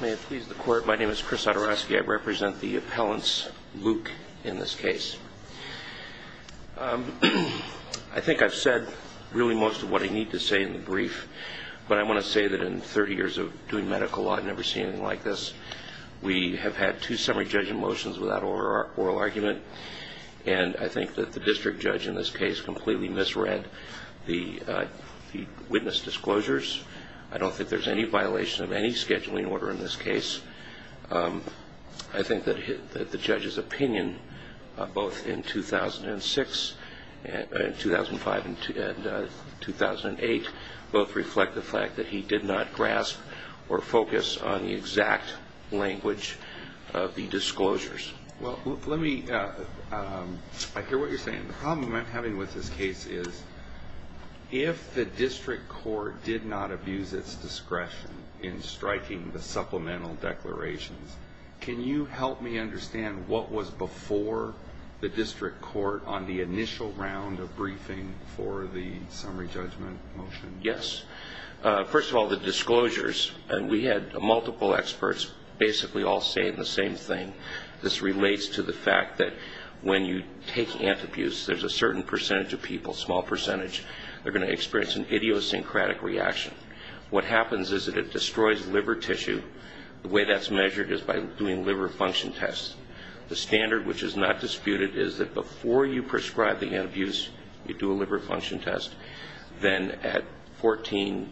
May it please the court, my name is Chris Odoroski, I represent the appellants, Luke, in this case. I think I've said really most of what I need to say in the brief, but I want to say that in 30 years of doing medical law I've never seen anything like this. We have had two summary judge motions without oral argument, and I think that the district judge in this case completely misread the witness disclosures. I don't think there's any violation of any scheduling order in this case. I think that the judge's opinion, both in 2006 and 2005 and 2008, both reflect the fact that he did not grasp or focus on the exact language of the disclosures. Well, let me, I hear what you're saying. The problem I'm having with this case is if the district court did not abuse its discretion in striking the supplemental declarations, can you help me understand what was before the district court on the initial round of briefing for the summary judgment motion? Yes. First of all, the disclosures, we had multiple experts basically all saying the same thing. This relates to the fact that when you take antabuse, there's a certain percentage of people, small percentage, they're going to experience an idiosyncratic reaction. What happens is that it destroys liver tissue. The way that's measured is by doing liver function tests. The standard which is not disputed is that before you prescribe the antabuse, you do a liver function test. Then at 14,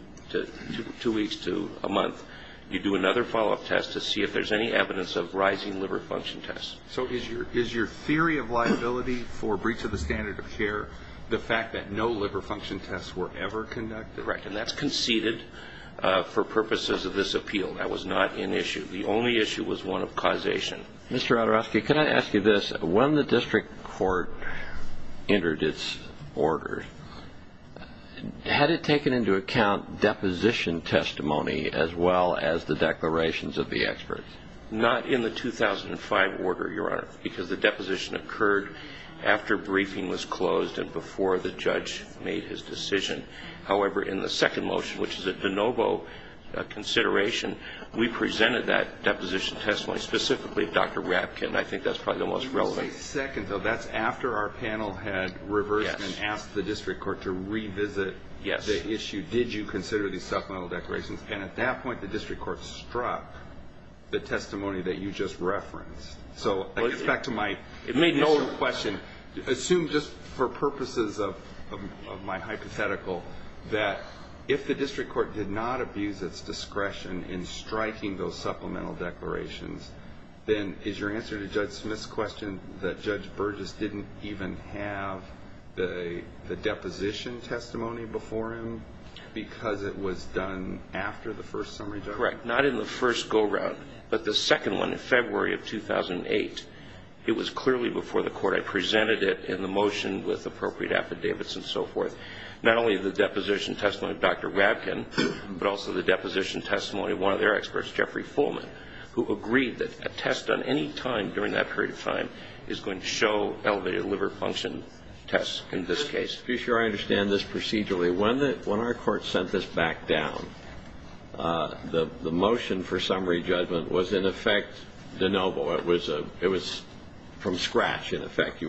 two weeks to a month, you do another follow-up test to see if there's any evidence of rising liver function tests. So is your theory of liability for breach of the standard of care the fact that no liver function tests were ever conducted? Correct. And that's conceded for purposes of this appeal. That was not an issue. The only issue was one of causation. Mr. Odorowski, can I ask you this? When the district court entered its order, had it taken into account deposition testimony as well as the declarations of the experts? Not in the 2005 order, Your Honor, because the deposition occurred after briefing was closed and before the judge made his decision. However, in the second motion, which is a de novo consideration, we presented that deposition testimony specifically to Dr. Rapkin. And I think that's probably the most relevant. Just a second, though. That's after our panel had reversed and asked the district court to revisit the issue. Did you consider these supplemental declarations? And at that point, the district court struck the testimony that you just referenced. So back to my initial question. Assume just for purposes of my hypothetical that if the district court did not abuse its discretion in striking those supplemental declarations, then is your answer to Judge Smith's question that Judge Burgess didn't even have the deposition testimony before him because it was done after the first summary judgment? Correct. Not in the first go-round, but the second one in February of 2008. It was clearly before the court. I presented it in the motion with appropriate affidavits and so forth, not only the deposition testimony of Dr. Rapkin, but also the deposition testimony of one of their experts, Jeffrey Fullman, who agreed that a test done any time during that period of time is going to show elevated liver function tests in this case. To be sure I understand this procedurally, when our court sent this back down, the motion for summary judgment was, in effect, de novo. You were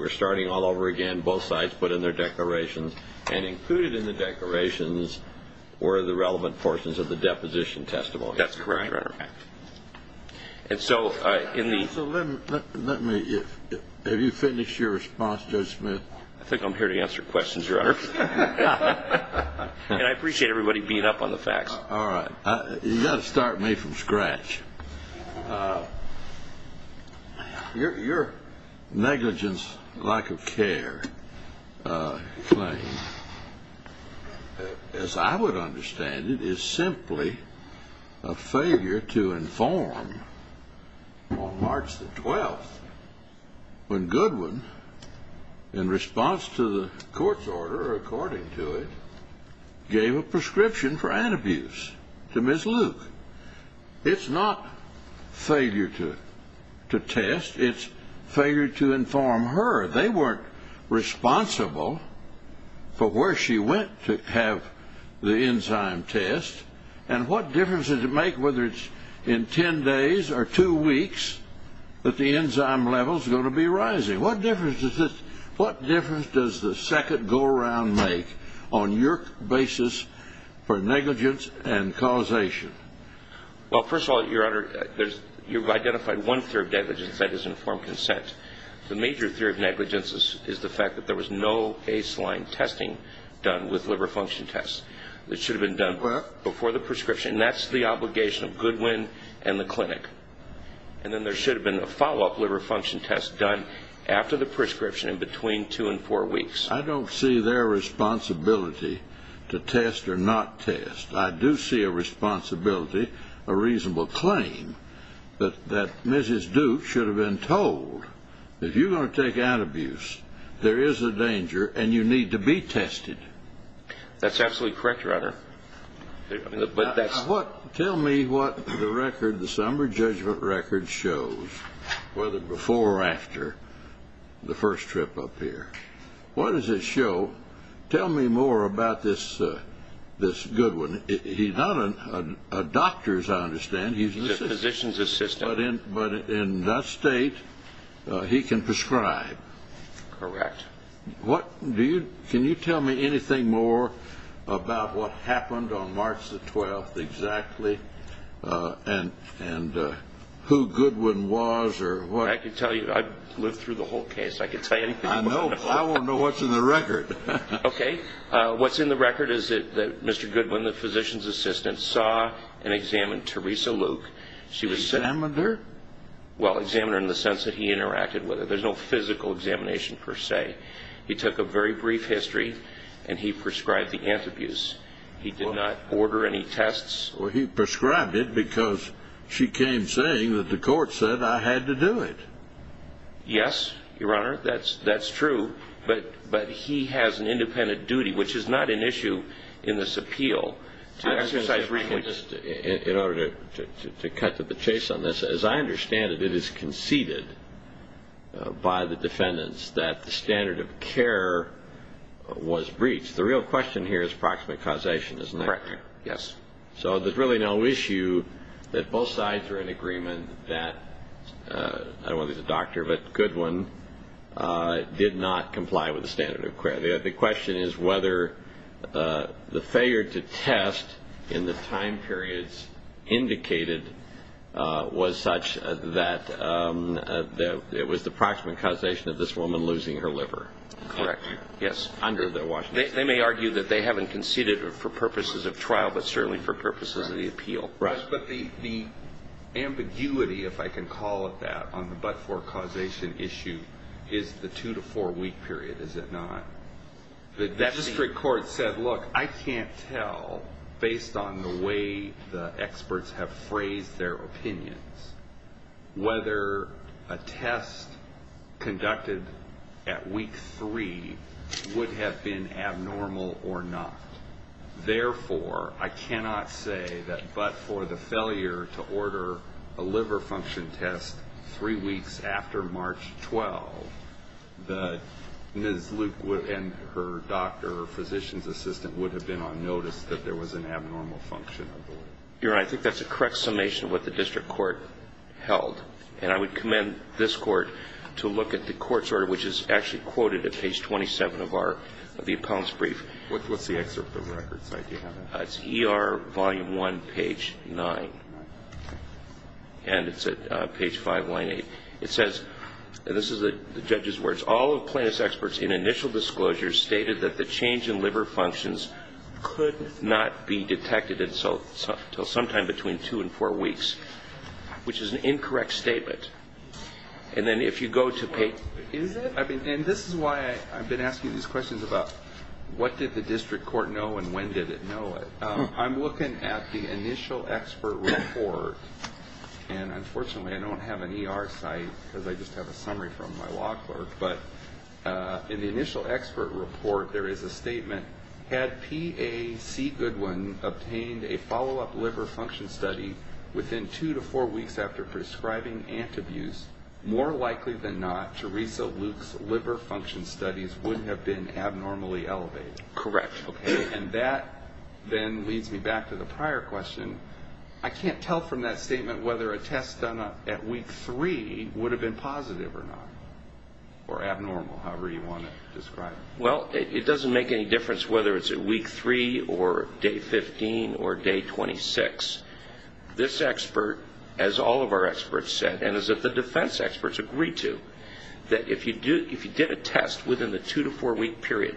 starting all over again. Both sides put in their declarations, and included in the declarations were the relevant portions of the deposition testimony. That's correct, Your Honor. And so in the – So let me – have you finished your response, Judge Smith? I think I'm here to answer questions, Your Honor. And I appreciate everybody beating up on the facts. All right. You've got to start me from scratch. Your negligence, lack of care claim, as I would understand it, is simply a failure to inform on March the 12th when Goodwin, in response to the court's order, or according to it, gave a prescription for antibuse to Ms. Luke. It's not failure to test. It's failure to inform her. They weren't responsible for where she went to have the enzyme test. And what difference does it make whether it's in ten days or two weeks that the enzyme level is going to be rising? What difference does the second go-around make on your basis for negligence and causation? Well, first of all, Your Honor, you've identified one theory of negligence, and that is informed consent. The major theory of negligence is the fact that there was no baseline testing done with liver function tests. It should have been done before the prescription. And that's the obligation of Goodwin and the clinic. And then there should have been a follow-up liver function test done after the prescription in between two and four weeks. I don't see their responsibility to test or not test. I do see a responsibility, a reasonable claim, that Mrs. Duke should have been told, if you're going to take antibuse, there is a danger and you need to be tested. That's absolutely correct, Your Honor. Tell me what the summer judgment record shows, whether before or after the first trip up here. What does it show? Tell me more about this Goodwin. He's not a doctor, as I understand. He's a physician's assistant. But in that state, he can prescribe. Correct. Can you tell me anything more about what happened on March the 12th exactly and who Goodwin was or what? I can tell you. I've lived through the whole case. I can tell you anything. I know. I want to know what's in the record. Okay. What's in the record is that Mr. Goodwin, the physician's assistant, saw and examined Teresa Luke. Examined her? Well, examined her in the sense that he interacted with her. There's no physical examination per se. He took a very brief history and he prescribed the antibuse. He did not order any tests. Well, he prescribed it because she came saying that the court said I had to do it. Yes, Your Honor. That's true. But he has an independent duty, which is not an issue in this appeal. In order to cut to the chase on this, as I understand it, it is conceded by the defendants that the standard of care was breached. The real question here is proximate causation, isn't it? Correct. Yes. So there's really no issue that both sides are in agreement that, I don't know if he's a doctor, but Goodwin did not comply with the standard of care. The question is whether the failure to test in the time periods indicated was such that it was the proximate causation of this woman losing her liver. Correct. Yes. They may argue that they haven't conceded for purposes of trial, but certainly for purposes of the appeal. Right. But the ambiguity, if I can call it that, on the but-for causation issue, is the two-to-four-week period, is it not? The district court said, look, I can't tell, based on the way the experts have phrased their opinions, whether a test conducted at week three would have been abnormal or not. Therefore, I cannot say that but for the failure to order a liver function test three weeks after March 12, that Ms. Luke and her doctor, her physician's assistant, would have been on notice that there was an abnormal function of the liver. Your Honor, I think that's a correct summation of what the district court held, and I would commend this court to look at the court's order, which is actually quoted at page 27 of the appellant's brief. What's the excerpt of the record site? Do you have it? It's ER Volume 1, page 9. And it's at page 5, line 8. It says, and this is the judge's words, all of plaintiff's experts in initial disclosure stated that the change in liver functions could not be detected until sometime between two and four weeks, which is an incorrect statement. And then if you go to page --. When did the district court know and when did it know it? I'm looking at the initial expert report, and unfortunately I don't have an ER site because I just have a summary from my law clerk, but in the initial expert report there is a statement, had PAC Goodwin obtained a follow-up liver function study within two to four weeks after prescribing antabuse, more likely than not, Teresa Luke's liver function studies would have been abnormally elevated. Correct. And that then leads me back to the prior question. I can't tell from that statement whether a test done at week three would have been positive or not, or abnormal, however you want to describe it. Well, it doesn't make any difference whether it's at week three or day 15 or day 26. This expert, as all of our experts said, and as the defense experts agreed to, that if you did a test within the two to four week period,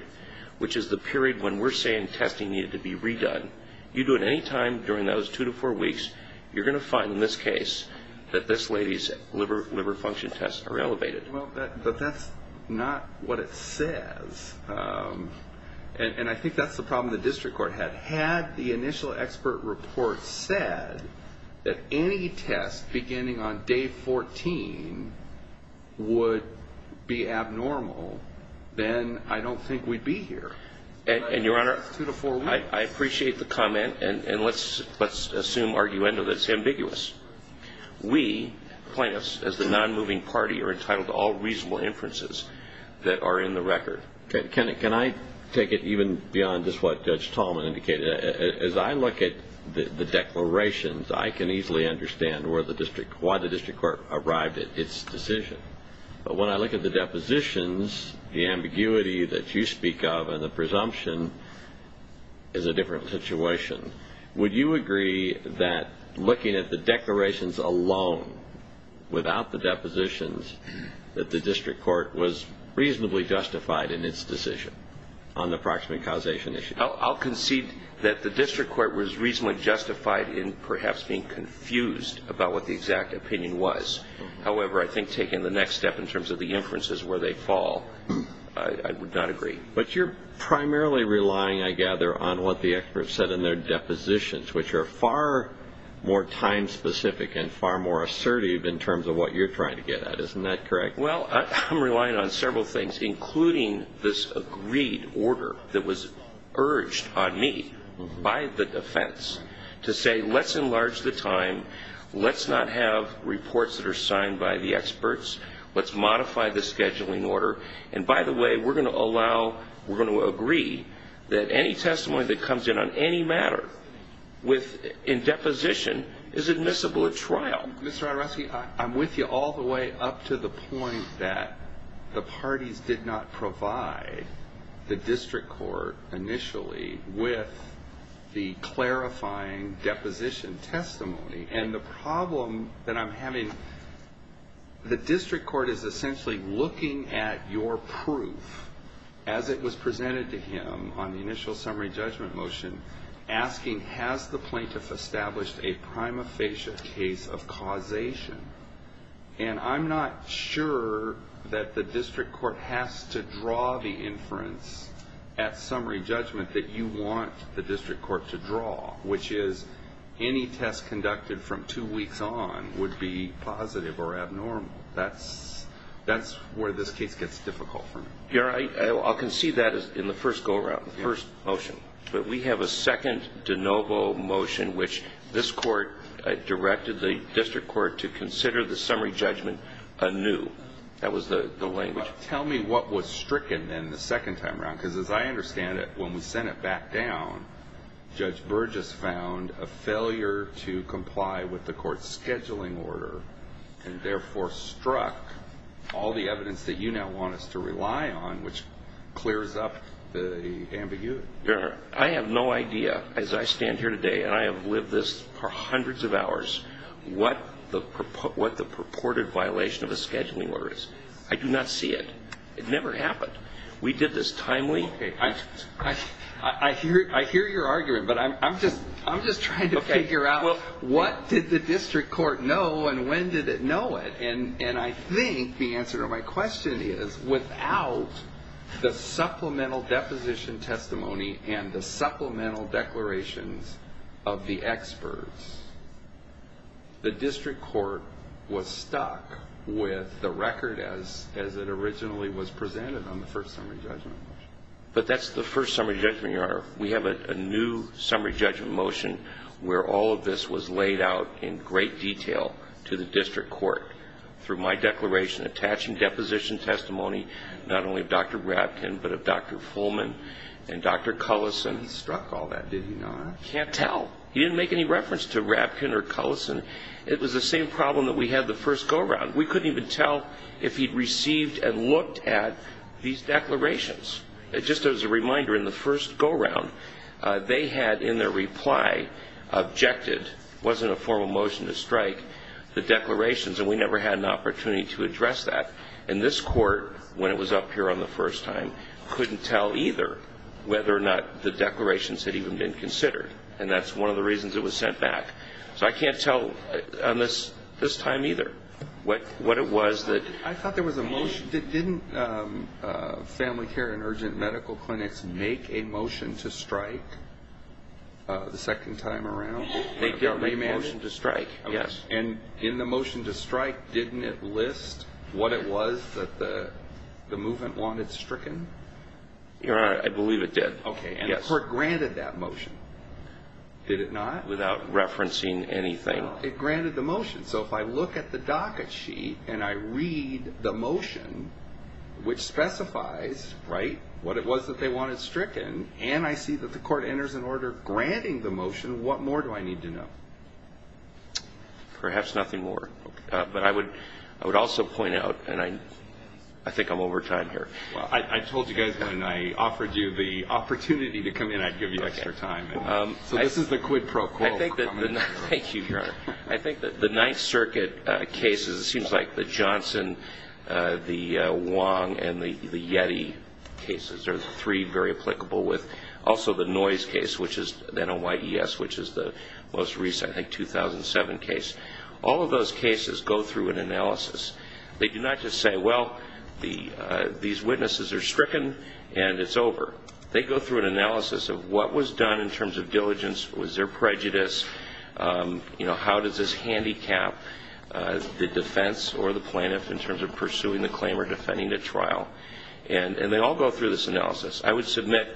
which is the period when we're saying testing needed to be redone, you do it any time during those two to four weeks, you're going to find in this case that this lady's liver function tests are elevated. But that's not what it says. And I think that's the problem the district court had. Had the initial expert report said that any test beginning on day 14 would be abnormal, then I don't think we'd be here. And, Your Honor, I appreciate the comment. And let's assume, argue, and know that it's ambiguous. We, plaintiffs, as the non-moving party, are entitled to all reasonable inferences that are in the record. Can I take it even beyond just what Judge Tallman indicated? As I look at the declarations, I can easily understand why the district court arrived at its decision. But when I look at the depositions, the ambiguity that you speak of and the presumption is a different situation. Would you agree that looking at the declarations alone, without the depositions, that the district court was reasonably justified in its decision on the proximate causation issue? I'll concede that the district court was reasonably justified in perhaps being confused about what the exact opinion was. However, I think taking the next step in terms of the inferences where they fall, I would not agree. But you're primarily relying, I gather, on what the experts said in their depositions, which are far more time-specific and far more assertive in terms of what you're trying to get at. Isn't that correct? Well, I'm relying on several things, including this agreed order that was urged on me by the defense to say, let's enlarge the time, let's not have reports that are signed by the experts, let's modify the scheduling order. And by the way, we're going to allow, we're going to agree that any testimony that comes in on any matter in deposition is admissible at trial. Mr. Roderoski, I'm with you all the way up to the point that the parties did not provide the district court initially with the clarifying deposition testimony. And the problem that I'm having, the district court is essentially looking at your proof as it was presented to him on the initial summary judgment motion, asking, has the plaintiff established a prima facie case of causation? And I'm not sure that the district court has to draw the inference at summary judgment that you want the district court to draw, which is any test conducted from two weeks on would be positive or abnormal. That's where this case gets difficult for me. I'll concede that in the first go-around, the first motion. But we have a second de novo motion, which this court directed the district court to consider the summary judgment anew. That was the language. Tell me what was stricken then the second time around, because as I understand it, when we sent it back down, Judge Burgess found a failure to comply with the court's scheduling order and therefore struck all the evidence that you now want us to rely on, which clears up the ambiguity. Your Honor, I have no idea, as I stand here today and I have lived this for hundreds of hours, what the purported violation of a scheduling order is. I do not see it. It never happened. We did this timely. Okay. I hear your argument, but I'm just trying to figure out what did the district court know and when did it know it? And I think the answer to my question is without the supplemental deposition testimony and the supplemental declarations of the experts, the district court was stuck with the record as it originally was presented on the first summary judgment motion. But that's the first summary judgment, Your Honor. We have a new summary judgment motion where all of this was laid out in great detail to the district court through my declaration attaching deposition testimony, not only of Dr. Rapkin, but of Dr. Fullman and Dr. Cullison. He struck all that, did he not? I can't tell. He didn't make any reference to Rapkin or Cullison. It was the same problem that we had the first go-around. We couldn't even tell if he'd received and looked at these declarations. Just as a reminder, in the first go-around, they had in their reply objected, it wasn't a formal motion to strike, the declarations, and we never had an opportunity to address that. And this court, when it was up here on the first time, couldn't tell either whether or not the declarations had even been considered. And that's one of the reasons it was sent back. So I can't tell on this time either what it was that. I thought there was a motion. Didn't Family Care and Urgent Medical Clinics make a motion to strike the second time around? They did make a motion to strike, yes. And in the motion to strike, didn't it list what it was that the movement wanted stricken? Your Honor, I believe it did, yes. The court granted that motion. Did it not? Without referencing anything. It granted the motion. So if I look at the docket sheet and I read the motion, which specifies what it was that they wanted stricken, and I see that the court enters an order granting the motion, what more do I need to know? Perhaps nothing more. But I would also point out, and I think I'm over time here. I told you guys when I offered you the opportunity to come in, I'd give you extra time. So this is the quid pro quo. Thank you, Your Honor. I think that the Ninth Circuit cases, it seems like the Johnson, the Wong, and the Yeti cases are three very applicable. Also the Noyes case, which is the NYES, which is the most recent, I think, 2007 case. All of those cases go through an analysis. They do not just say, well, these witnesses are stricken and it's over. They go through an analysis of what was done in terms of diligence. Was there prejudice? How does this handicap the defense or the plaintiff in terms of pursuing the claim or defending the trial? And they all go through this analysis. I would submit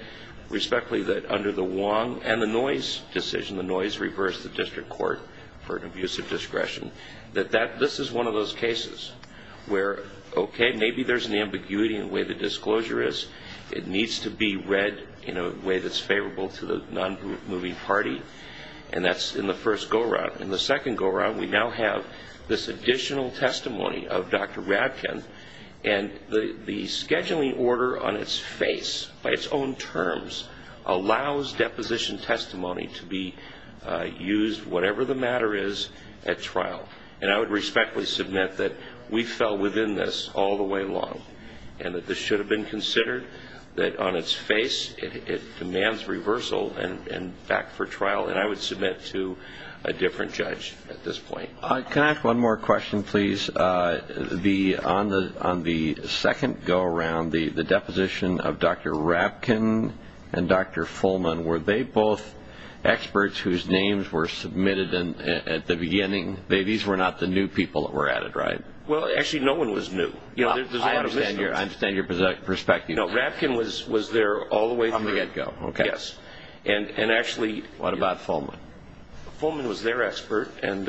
respectfully that under the Wong and the Noyes decision, the Noyes reversed the district court for an abusive discretion, that this is one of those cases where, okay, maybe there's an ambiguity in the way the disclosure is. It needs to be read in a way that's favorable to the non-moving party, and that's in the first go-around. In the second go-around, we now have this additional testimony of Dr. Radkin, and the scheduling order on its face, by its own terms, allows deposition testimony to be used, whatever the matter is, at trial. And I would respectfully submit that we fell within this all the way along and that this should have been considered, that on its face it demands reversal and back for trial, and I would submit to a different judge at this point. Can I ask one more question, please? On the second go-around, the deposition of Dr. Radkin and Dr. Fulman, were they both experts whose names were submitted at the beginning? These were not the new people that were at it, right? Well, actually, no one was new. I understand your perspective. No, Radkin was there all the way from the get-go. Okay. Yes. What about Fulman? Fulman was their expert, and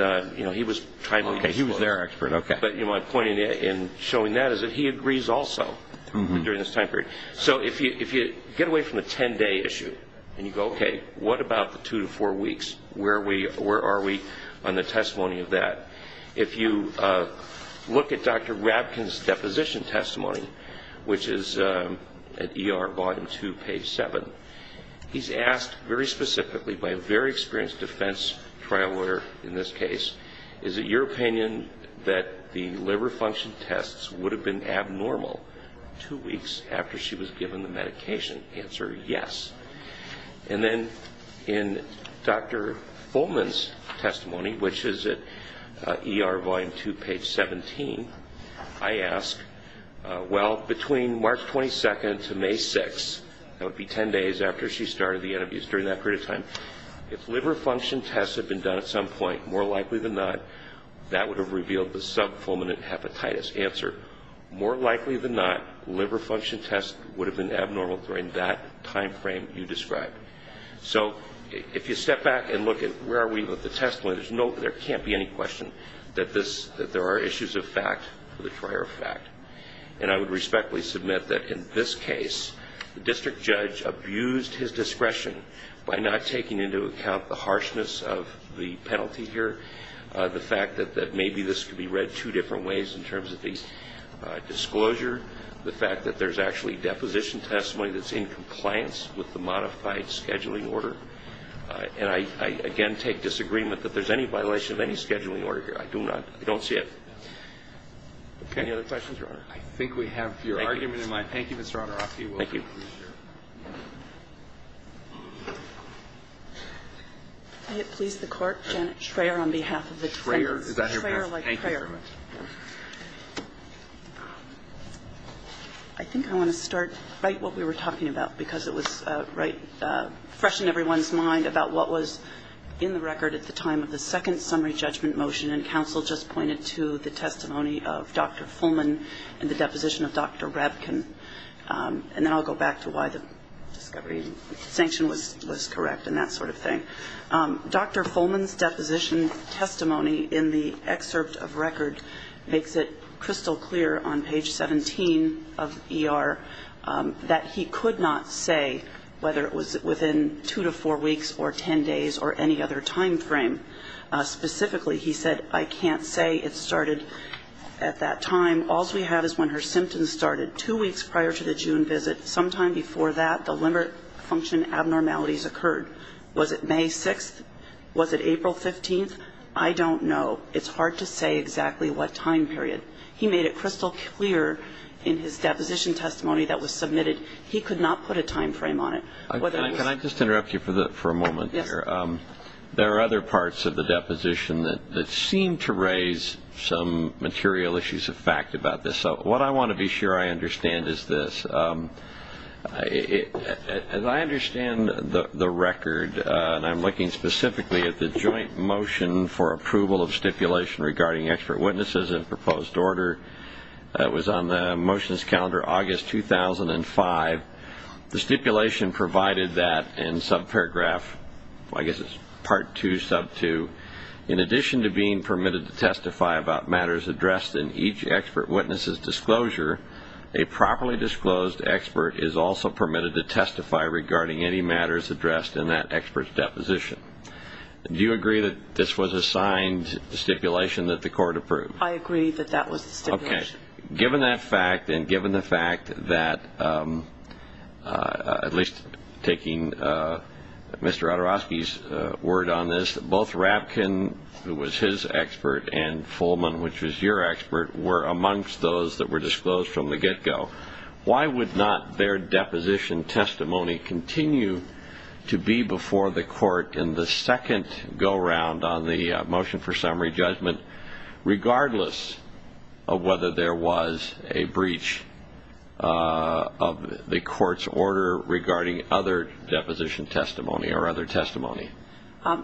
he was timely. Okay, he was their expert, okay. But my point in showing that is that he agrees also during this time period. So if you get away from the 10-day issue and you go, okay, what about the two to four weeks? Where are we on the testimony of that? If you look at Dr. Radkin's deposition testimony, which is at ER, bottom two, page seven, he's asked very specifically by a very experienced defense trial lawyer in this case, is it your opinion that the liver function tests would have been abnormal two weeks after she was given the medication? Answer, yes. And then in Dr. Fulman's testimony, which is at ER, volume two, page 17, I ask, well, between March 22nd to May 6th, that would be 10 days after she started the NMUs during that period of time, if liver function tests had been done at some point, more likely than not, that would have revealed the sub-Fulman hepatitis. Answer, more likely than not, liver function tests would have been abnormal during that time frame you described. So if you step back and look at where are we with the testimony, there can't be any question that there are issues of fact with the prior fact. And I would respectfully submit that in this case, the district judge abused his discretion by not taking into account the harshness of the penalty here, the fact that maybe this could be read two different ways in terms of the disclosure, the fact that there's actually deposition testimony that's in compliance with the modified scheduling order. And I, again, take disagreement that there's any violation of any scheduling order here. I do not. I don't see it. Okay. Any other questions, Your Honor? I think we have your argument in mind. Thank you, Mr. Onorofsky. Thank you. May it please the Court. Janet Schreyer on behalf of the defense. Schreyer. Thank you very much. I think I want to start right what we were talking about, because it was right fresh in everyone's mind about what was in the record at the time of the second summary judgment motion. And counsel just pointed to the testimony of Dr. Fulman and the deposition of Dr. Rabkin. And then I'll go back to why the discovery sanction was correct and that sort of thing. Dr. Fulman's deposition testimony in the excerpt of record makes it crystal clear on page 17 of ER that he could not say whether it was within two to four weeks or ten days or any other time frame. Specifically, he said, I can't say it started at that time. All we have is when her symptoms started, two weeks prior to the June visit. Sometime before that, the limbic function abnormalities occurred. Was it May 6th? Was it April 15th? I don't know. It's hard to say exactly what time period. He made it crystal clear in his deposition testimony that was submitted he could not put a time frame on it. Can I just interrupt you for a moment? Yes. There are other parts of the deposition that seem to raise some material issues of fact about this. What I want to be sure I understand is this. As I understand the record, and I'm looking specifically at the joint motion for approval of stipulation regarding expert witnesses in proposed order that was on the motions calendar August 2005, the stipulation provided that in subparagraph, I guess it's part two, sub two, in addition to being permitted to testify about matters addressed in each expert witness's disclosure, a properly disclosed expert is also permitted to testify regarding any matters addressed in that expert's deposition. Do you agree that this was a signed stipulation that the court approved? I agree that that was the stipulation. Okay. Given that fact and given the fact that, at least taking Mr. Odorowski's word on this, both Rapkin, who was his expert, and Fulman, which was your expert, were amongst those that were disclosed from the get-go, why would not their deposition testimony continue to be before the court in the second go-round on the motion for summary judgment, regardless of whether there was a breach of the court's order regarding other deposition testimony or other testimony?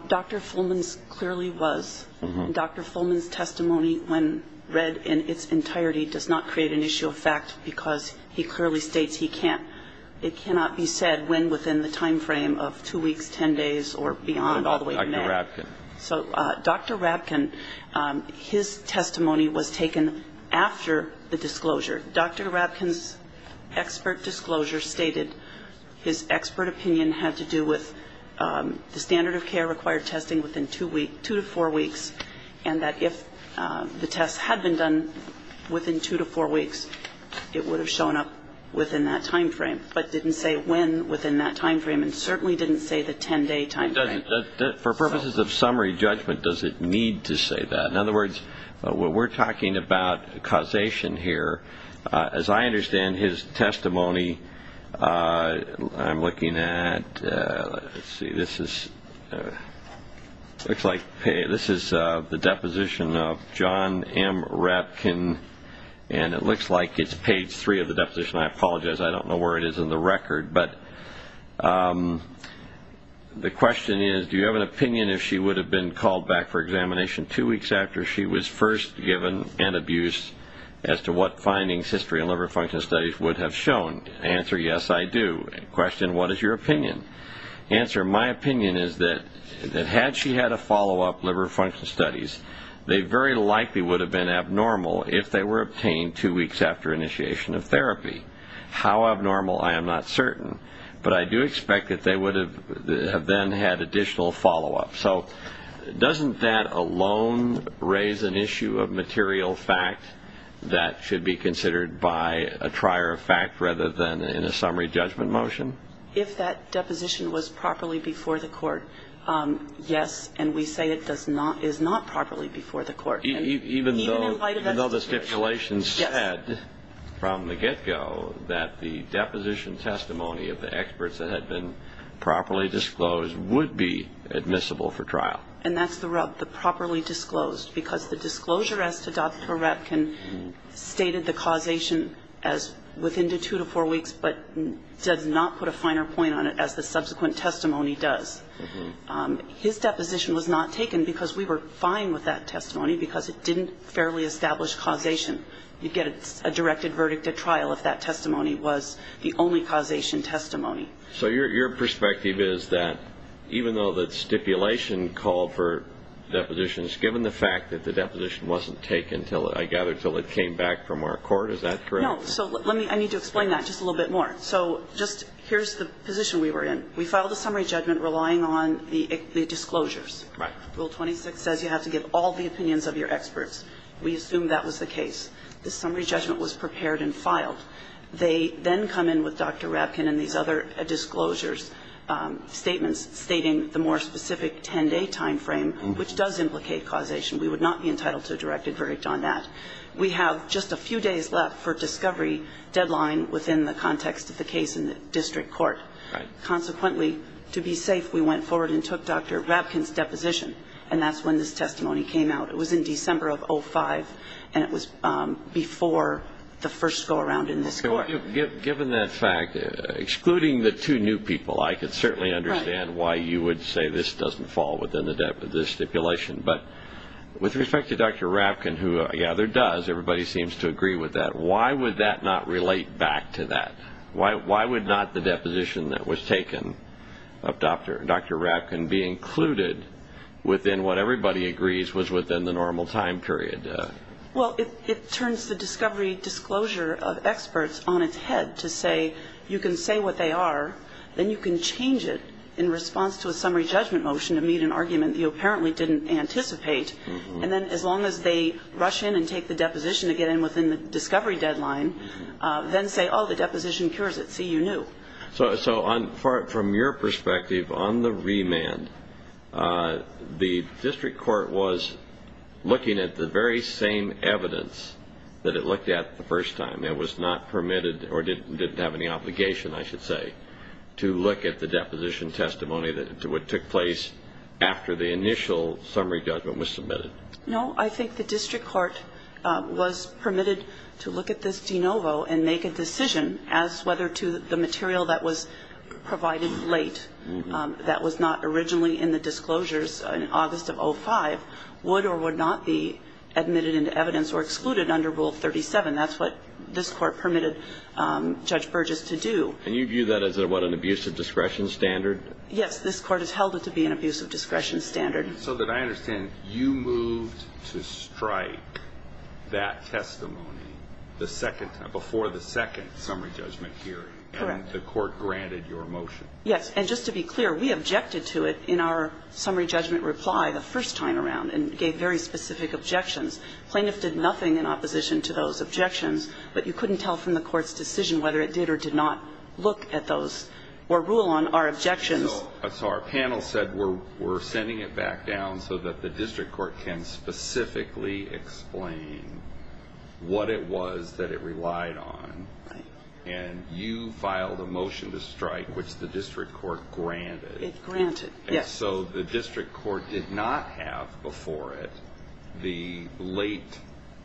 Dr. Fulman's clearly was. And Dr. Fulman's testimony, when read in its entirety, does not create an issue of fact because he clearly states he can't It cannot be said when within the time frame of two weeks, ten days, or beyond, all the way from there. Dr. Rapkin. So Dr. Rapkin, his testimony was taken after the disclosure. Dr. Rapkin's expert disclosure stated his expert opinion had to do with the standard of care that required testing within two weeks, two to four weeks, and that if the test had been done within two to four weeks, it would have shown up within that time frame, but didn't say when within that time frame and certainly didn't say the ten-day time frame. For purposes of summary judgment, does it need to say that? In other words, we're talking about causation here. As I understand his testimony, I'm looking at, let's see, this is the deposition of John M. Rapkin, and it looks like it's page three of the deposition. I apologize. I don't know where it is in the record. But the question is, do you have an opinion if she would have been called back for examination two weeks after she was first given and abused as to what findings, history, and liver function studies would have shown? Answer, yes, I do. Question, what is your opinion? Answer, my opinion is that had she had a follow-up liver function studies, they very likely would have been abnormal if they were obtained two weeks after initiation of therapy. How abnormal, I am not certain, but I do expect that they would have then had additional follow-up. So doesn't that alone raise an issue of material fact that should be considered by a trier of fact rather than in a summary judgment motion? If that deposition was properly before the court, yes, and we say it is not properly before the court. Even though the stipulation said from the get-go that the deposition testimony of the experts that had been properly disclosed would be admissible for trial. And that's the rub, the properly disclosed. Because the disclosure as to Dr. Ratkin stated the causation as within two to four weeks but does not put a finer point on it as the subsequent testimony does. His deposition was not taken because we were fine with that testimony because it didn't fairly establish causation. You'd get a directed verdict at trial if that testimony was the only causation testimony. So your perspective is that even though the stipulation called for depositions, given the fact that the deposition wasn't taken, I gather, until it came back from our court, is that correct? No. So let me ñ I need to explain that just a little bit more. So just here's the position we were in. We filed a summary judgment relying on the disclosures. Right. Rule 26 says you have to give all the opinions of your experts. We assumed that was the case. The summary judgment was prepared and filed. They then come in with Dr. Ratkin and these other disclosures, statements stating the more specific 10-day timeframe, which does implicate causation. We would not be entitled to a directed verdict on that. We have just a few days left for discovery deadline within the context of the case in the district court. Right. Consequently, to be safe, we went forward and took Dr. Ratkin's deposition, and that's when this testimony came out. It was in December of 2005, and it was before the first go-around in this court. Given that fact, excluding the two new people, I could certainly understand why you would say this doesn't fall within the stipulation. But with respect to Dr. Ratkin, who I gather does, everybody seems to agree with that, why would that not relate back to that? Why would not the deposition that was taken of Dr. Ratkin be included within what everybody agrees was within the normal time period? Well, it turns the discovery disclosure of experts on its head to say you can say what they are, then you can change it in response to a summary judgment motion to meet an argument that you apparently didn't anticipate. And then as long as they rush in and take the deposition to get in within the discovery deadline, then say, oh, the deposition cures it, see, you knew. So from your perspective, on the remand, the district court was looking at the very same evidence that it looked at the first time. It was not permitted, or didn't have any obligation, I should say, to look at the deposition testimony that took place after the initial summary judgment was submitted. No, I think the district court was permitted to look at this de novo and make a decision as whether to the material that was provided late, that was not originally in the disclosures in August of 2005, would or would not be admitted into evidence or excluded under Rule 37. That's what this Court permitted Judge Burgess to do. And you view that as what, an abuse of discretion standard? Yes. This Court has held it to be an abuse of discretion standard. So that I understand, you moved to strike that testimony the second time, before the second summary judgment hearing. Correct. And the Court granted your motion. Yes. And just to be clear, we objected to it in our summary judgment reply the first time around and gave very specific objections. Plaintiff did nothing in opposition to those objections, but you couldn't tell from the Court's decision whether it did or did not look at those or rule on our objections. So our panel said we're sending it back down so that the district court can specifically explain what it was that it relied on. Right. And you filed a motion to strike, which the district court granted. It granted. Yes. So the district court did not have before it the late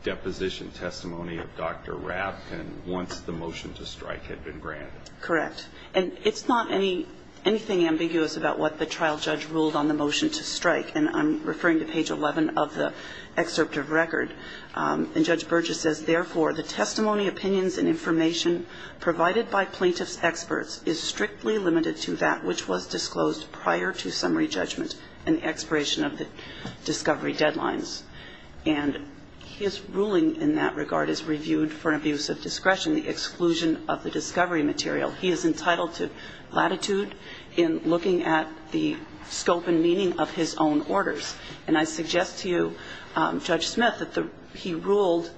deposition testimony of Dr. Rapkin once the motion to strike had been granted. Correct. And it's not anything ambiguous about what the trial judge ruled on the motion to strike. And I'm referring to page 11 of the excerpt of record. And Judge Burgess says, Therefore, the testimony, opinions, and information provided by plaintiff's experts is strictly limited to that which was disclosed prior to summary judgment and the expiration of the discovery deadlines. And his ruling in that regard is reviewed for an abuse of discretion, the exclusion of the discovery material. He is entitled to latitude in looking at the scope and meaning of his own orders. And I suggest to you, Judge Smith, that he ruled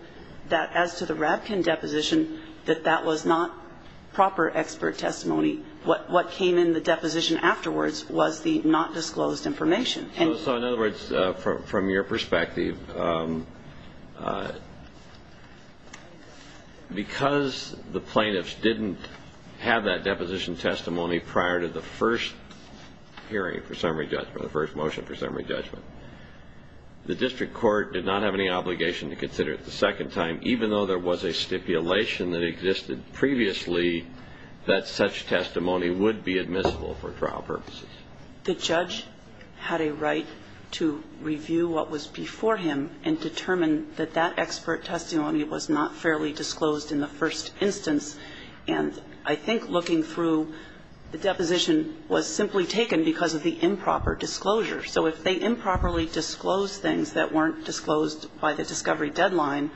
that as to the Rapkin deposition, that that was not proper expert testimony. What came in the deposition afterwards was the not disclosed information. So, in other words, from your perspective, because the plaintiffs didn't have that deposition testimony prior to the first hearing for summary judgment, the first motion for summary judgment, the district court did not have any obligation to consider it the second time, even though there was a stipulation that existed previously that such testimony would be admissible for trial purposes. The judge had a right to review what was before him and determine that that expert testimony was not fairly disclosed in the first instance. And I think looking through, the deposition was simply taken because of the improper disclosure. So if they improperly disclosed things that weren't disclosed by the discovery deadline,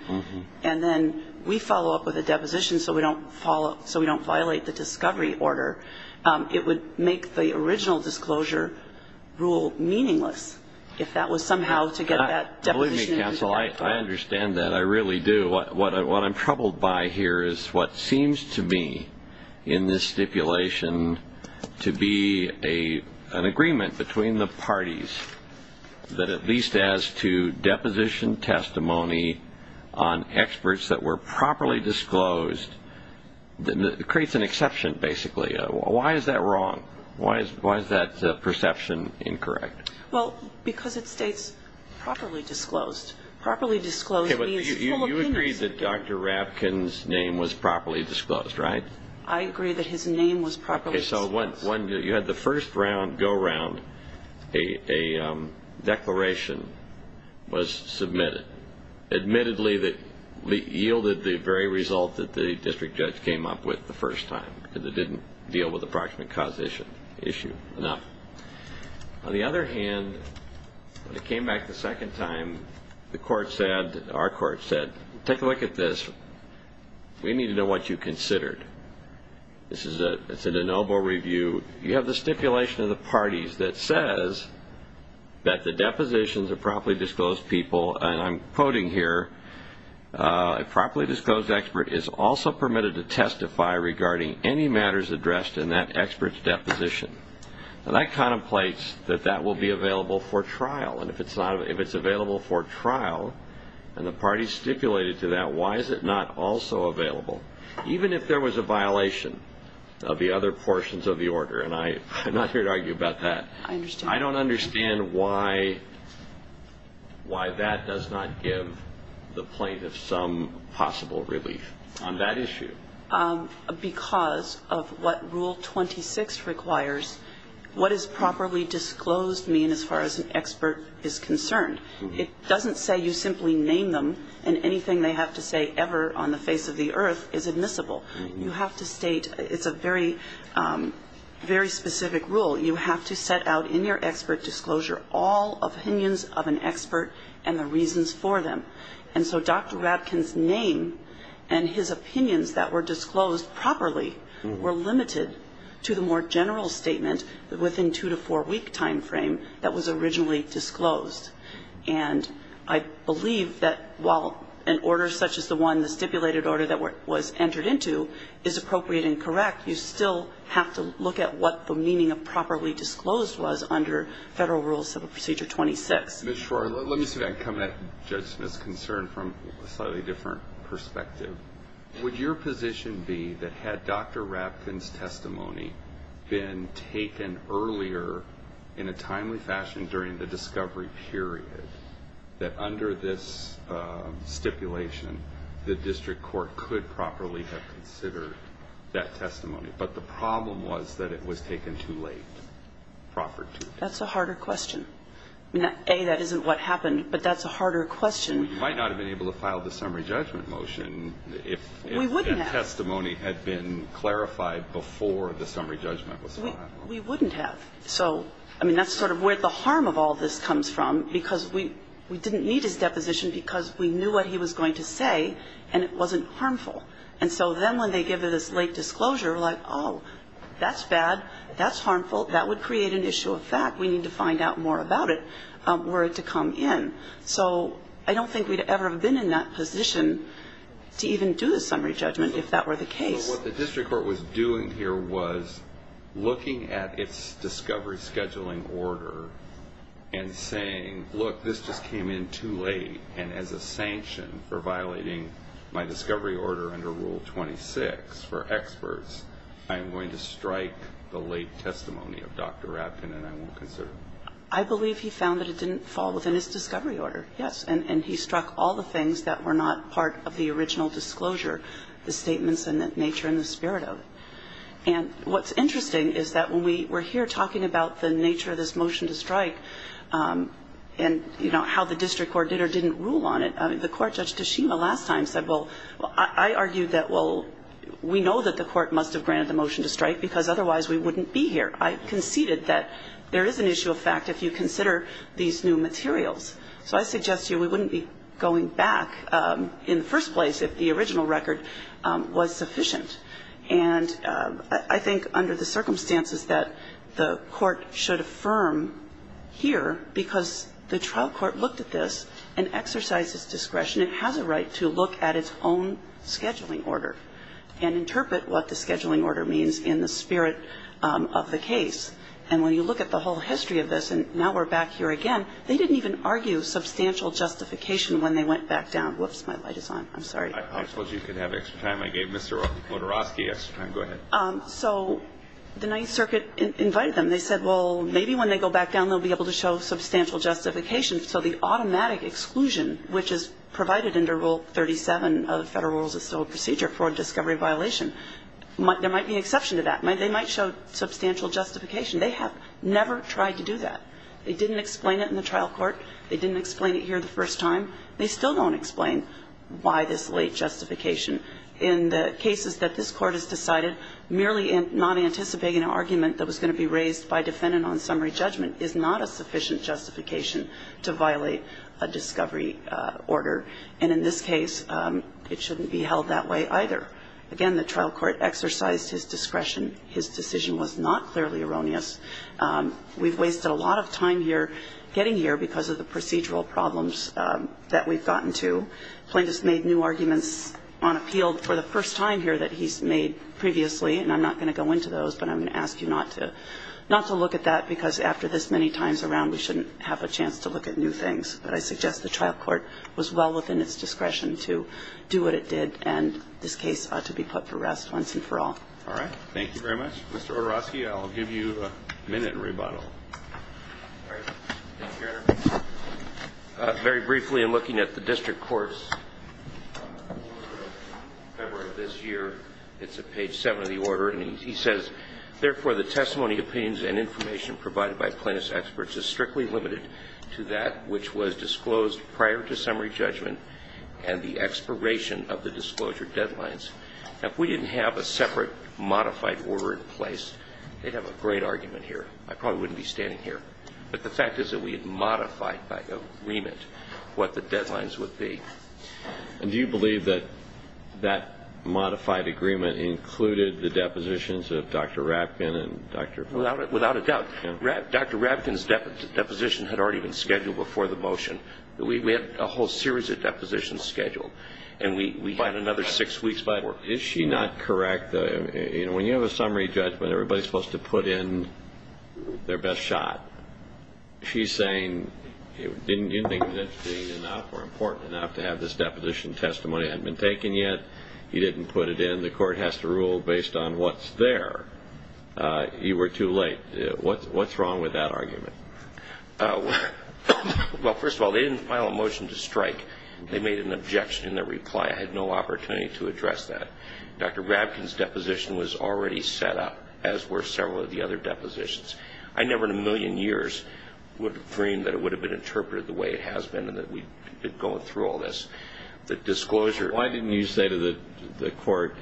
and then we follow up with a deposition so we don't follow up so we don't rule meaningless, if that was somehow to get that deposition. Believe me, counsel, I understand that. I really do. What I'm troubled by here is what seems to me in this stipulation to be an agreement between the parties that at least as to deposition testimony on experts that were properly disclosed, it creates an exception, basically. Why is that wrong? Why is that perception incorrect? Well, because it states properly disclosed. Properly disclosed means full opinions. You agree that Dr. Rapkin's name was properly disclosed, right? I agree that his name was properly disclosed. So you had the first round go around, a declaration was submitted, admittedly that yielded the very result that the district judge came up with the first time, because it didn't deal with the proximate cause issue enough. On the other hand, when it came back the second time, the court said, our court said, take a look at this. We need to know what you considered. This is a noble review. You have the stipulation of the parties that says that the depositions of properly disclosed people, and I'm quoting here, a properly disclosed expert is also permitted to testify regarding any matters addressed in that expert's deposition. Now, that contemplates that that will be available for trial. And if it's available for trial and the parties stipulated to that, why is it not also available? Even if there was a violation of the other portions of the order, and I'm not here to argue about that. I understand. I don't understand why that does not give the plaintiff some possible relief on that issue. Because of what Rule 26 requires, what does properly disclosed mean as far as an expert is concerned? It doesn't say you simply name them and anything they have to say ever on the face of the earth is admissible. You have to state, it's a very, very specific rule. You have to set out in your expert disclosure all opinions of an expert and the reasons for them. And so Dr. Ratkin's name and his opinions that were disclosed properly were limited to the more general statement within two to four-week time frame that was originally disclosed. And I believe that while an order such as the one, the stipulated order that was entered into, is appropriate and correct, you still have to look at what the meaning of properly disclosed was under Federal Rules of Procedure 26. Mr. Schwartz, let me say, coming at Judge Smith's concern from a slightly different perspective, would your position be that had Dr. Ratkin's testimony been taken earlier in a timely fashion during the discovery period, that under this stipulation the district court could properly have considered that testimony, but the problem was that it was taken too late, proffered too late? That's a harder question. A, that isn't what happened, but that's a harder question. Well, you might not have been able to file the summary judgment motion if that testimony had been clarified before the summary judgment was filed. We wouldn't have. So, I mean, that's sort of where the harm of all this comes from, because we didn't need his deposition because we knew what he was going to say and it wasn't harmful. And so then when they give this late disclosure, like, oh, that's bad, that's harmful, that would create an issue of fact, we need to find out more about it were it to come in. So I don't think we'd ever have been in that position to even do the summary judgment if that were the case. What the district court was doing here was looking at its discovery scheduling order and saying, look, this just came in too late, and as a sanction for violating my discovery order under Rule 26 for experts, I am going to strike the late testimony of Dr. Ratkin and I won't consider it. I believe he found that it didn't fall within his discovery order, yes. And he struck all the things that were not part of the original disclosure, the statements and the nature and the spirit of it. And what's interesting is that when we were here talking about the nature of this motion to strike and, you know, how the district court did or didn't rule on it, I mean, the court, Judge Tashima, last time said, well, I argued that, well, we know that the court must have granted the motion to strike because otherwise we wouldn't be here. I conceded that there is an issue of fact if you consider these new materials. So I suggest to you we wouldn't be going back in the first place if the original record was sufficient. And I think under the circumstances that the court should affirm here, because the trial court looked at this and exercised its discretion and has a right to look at its own scheduling order and interpret what the scheduling order means in the spirit of the case. And when you look at the whole history of this and now we're back here again, they didn't even argue substantial justification when they went back down. Whoops, my light is on. I'm sorry. I suppose you could have extra time. I gave Mr. Motorosky extra time. Go ahead. So the Ninth Circuit invited them. And they said, well, maybe when they go back down they'll be able to show substantial justification. So the automatic exclusion, which is provided under Rule 37 of Federal Rules of Civil Procedure, fraud, discovery, violation, there might be an exception to that. They might show substantial justification. They have never tried to do that. They didn't explain it in the trial court. They didn't explain it here the first time. They still don't explain why this late justification in the cases that this court has decided, merely not anticipating an argument that was going to be raised by defendant on summary judgment is not a sufficient justification to violate a discovery order. And in this case, it shouldn't be held that way either. Again, the trial court exercised his discretion. His decision was not clearly erroneous. We've wasted a lot of time here getting here because of the procedural problems that we've gotten to. Plaintiff's made new arguments on appeal for the first time here that he's made previously. And I'm not going to go into those. But I'm going to ask you not to look at that, because after this many times around, we shouldn't have a chance to look at new things. But I suggest the trial court was well within its discretion to do what it did, and this case ought to be put to rest once and for all. All right. Thank you very much. Mr. Odurofsky, I'll give you a minute rebuttal. All right. Thank you, Your Honor. Very briefly, in looking at the district court's order of February of this year, it's at page 7 of the order. And he says, Therefore, the testimony, opinions, and information provided by plaintiff's experts is strictly limited to that which was disclosed prior to summary judgment and the expiration of the disclosure deadlines. Now, if we didn't have a separate modified order in place, they'd have a great argument here. I probably wouldn't be standing here. But the fact is that we had modified by agreement what the deadlines would be. And do you believe that that modified agreement included the depositions of Dr. Rapkin and Dr. Fletcher? Without a doubt. Dr. Rapkin's deposition had already been scheduled before the motion. We had a whole series of depositions scheduled, and we had another six weeks before. But is she not correct? When you have a summary judgment, everybody's supposed to put in their best shot. She's saying, didn't you think that it was enough or important enough to have this deposition testimony? It hadn't been taken yet. You didn't put it in. The court has to rule based on what's there. You were too late. What's wrong with that argument? Well, first of all, they didn't file a motion to strike. They made an objection in their reply. I had no opportunity to address that. Dr. Rapkin's deposition was already set up, as were several of the other depositions. I never in a million years would have dreamed that it would have been interpreted the way it has been and that we'd be going through all this. The disclosure. Why didn't you say to the court,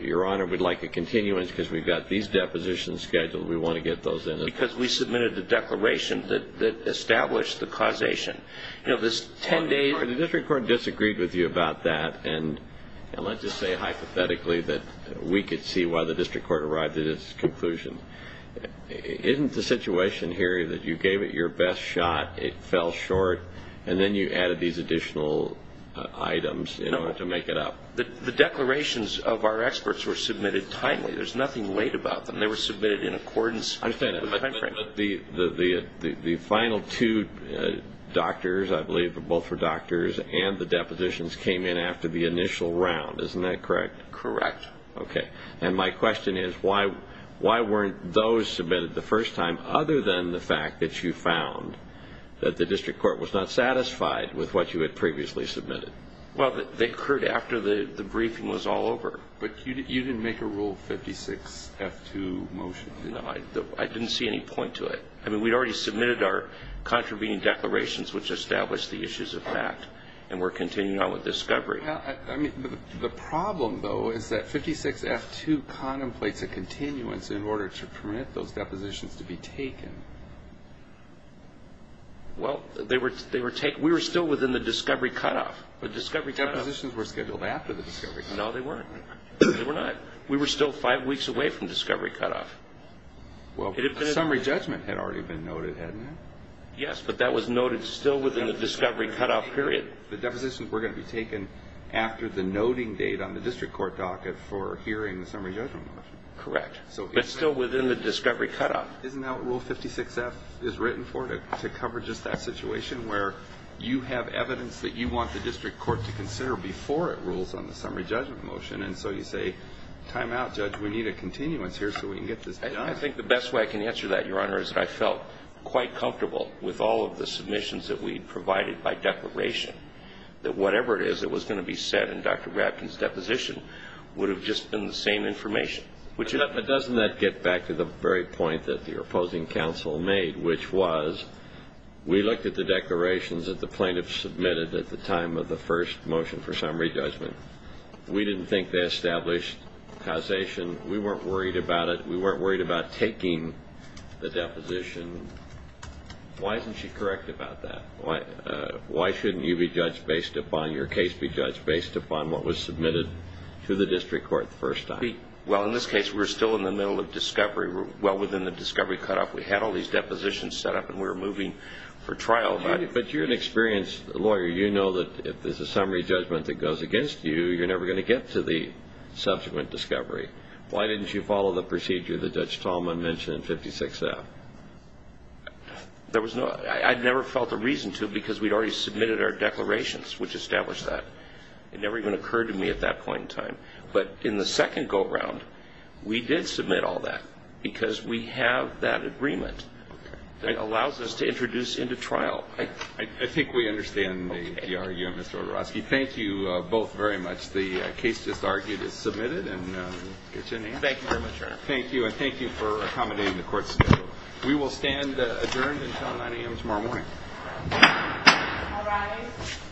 Your Honor, we'd like a continuance because we've got these depositions scheduled. We want to get those in. Because we submitted the declaration that established the causation. The district court disagreed with you about that, and let's just say hypothetically that we could see why the district court arrived at its conclusion. Isn't the situation here that you gave it your best shot, it fell short, and then you added these additional items in order to make it up? The declarations of our experts were submitted timely. There's nothing late about them. They were submitted in accordance with the time frame. But the final two doctors, I believe both were doctors, and the depositions came in after the initial round. Isn't that correct? Correct. Okay. And my question is, why weren't those submitted the first time, other than the fact that you found that the district court was not satisfied with what you had previously submitted? Well, they occurred after the briefing was all over. But you didn't make a Rule 56-F2 motion. No, I didn't see any point to it. I mean, we'd already submitted our contravening declarations, which established the issues of fact, and we're continuing on with discovery. The problem, though, is that 56-F2 contemplates a continuance in order to permit those depositions to be taken. Well, we were still within the discovery cutoff. The depositions were scheduled after the discovery cutoff. No, they weren't. They were not. Well, a summary judgment had already been noted, hadn't it? Yes, but that was noted still within the discovery cutoff period. The depositions were going to be taken after the noting date on the district court docket for hearing the summary judgment motion. Correct, but still within the discovery cutoff. Isn't that what Rule 56-F is written for, to cover just that situation, where you have evidence that you want the district court to consider before it rules on the summary judgment motion, and so you say, time out, Judge, we need a continuance here so we can get this done? I think the best way I can answer that, Your Honor, is that I felt quite comfortable with all of the submissions that we'd provided by declaration, that whatever it is that was going to be said in Dr. Grafton's deposition would have just been the same information. But doesn't that get back to the very point that your opposing counsel made, which was we looked at the declarations that the plaintiffs submitted at the time of the first motion for summary judgment. We didn't think they established causation. We weren't worried about it. We weren't worried about taking the deposition. Why isn't she correct about that? Why shouldn't you be judged based upon your case be judged based upon what was submitted to the district court the first time? Well, in this case, we were still in the middle of discovery, well, within the discovery cutoff. We had all these depositions set up, and we were moving for trial. But you're an experienced lawyer. You know that if there's a summary judgment that goes against you, you're never going to get to the subsequent discovery. Why didn't you follow the procedure that Judge Tallman mentioned in 56-F? I never felt a reason to because we'd already submitted our declarations, which established that. It never even occurred to me at that point in time. But in the second go-around, we did submit all that because we have that agreement that allows us to introduce into trial. Well, I think we understand the argument, Mr. Odorowski. Thank you both very much. The case just argued is submitted. Thank you very much, Your Honor. Thank you, and thank you for accommodating the court schedule. We will stand adjourned until 9 a.m. tomorrow morning. All rise.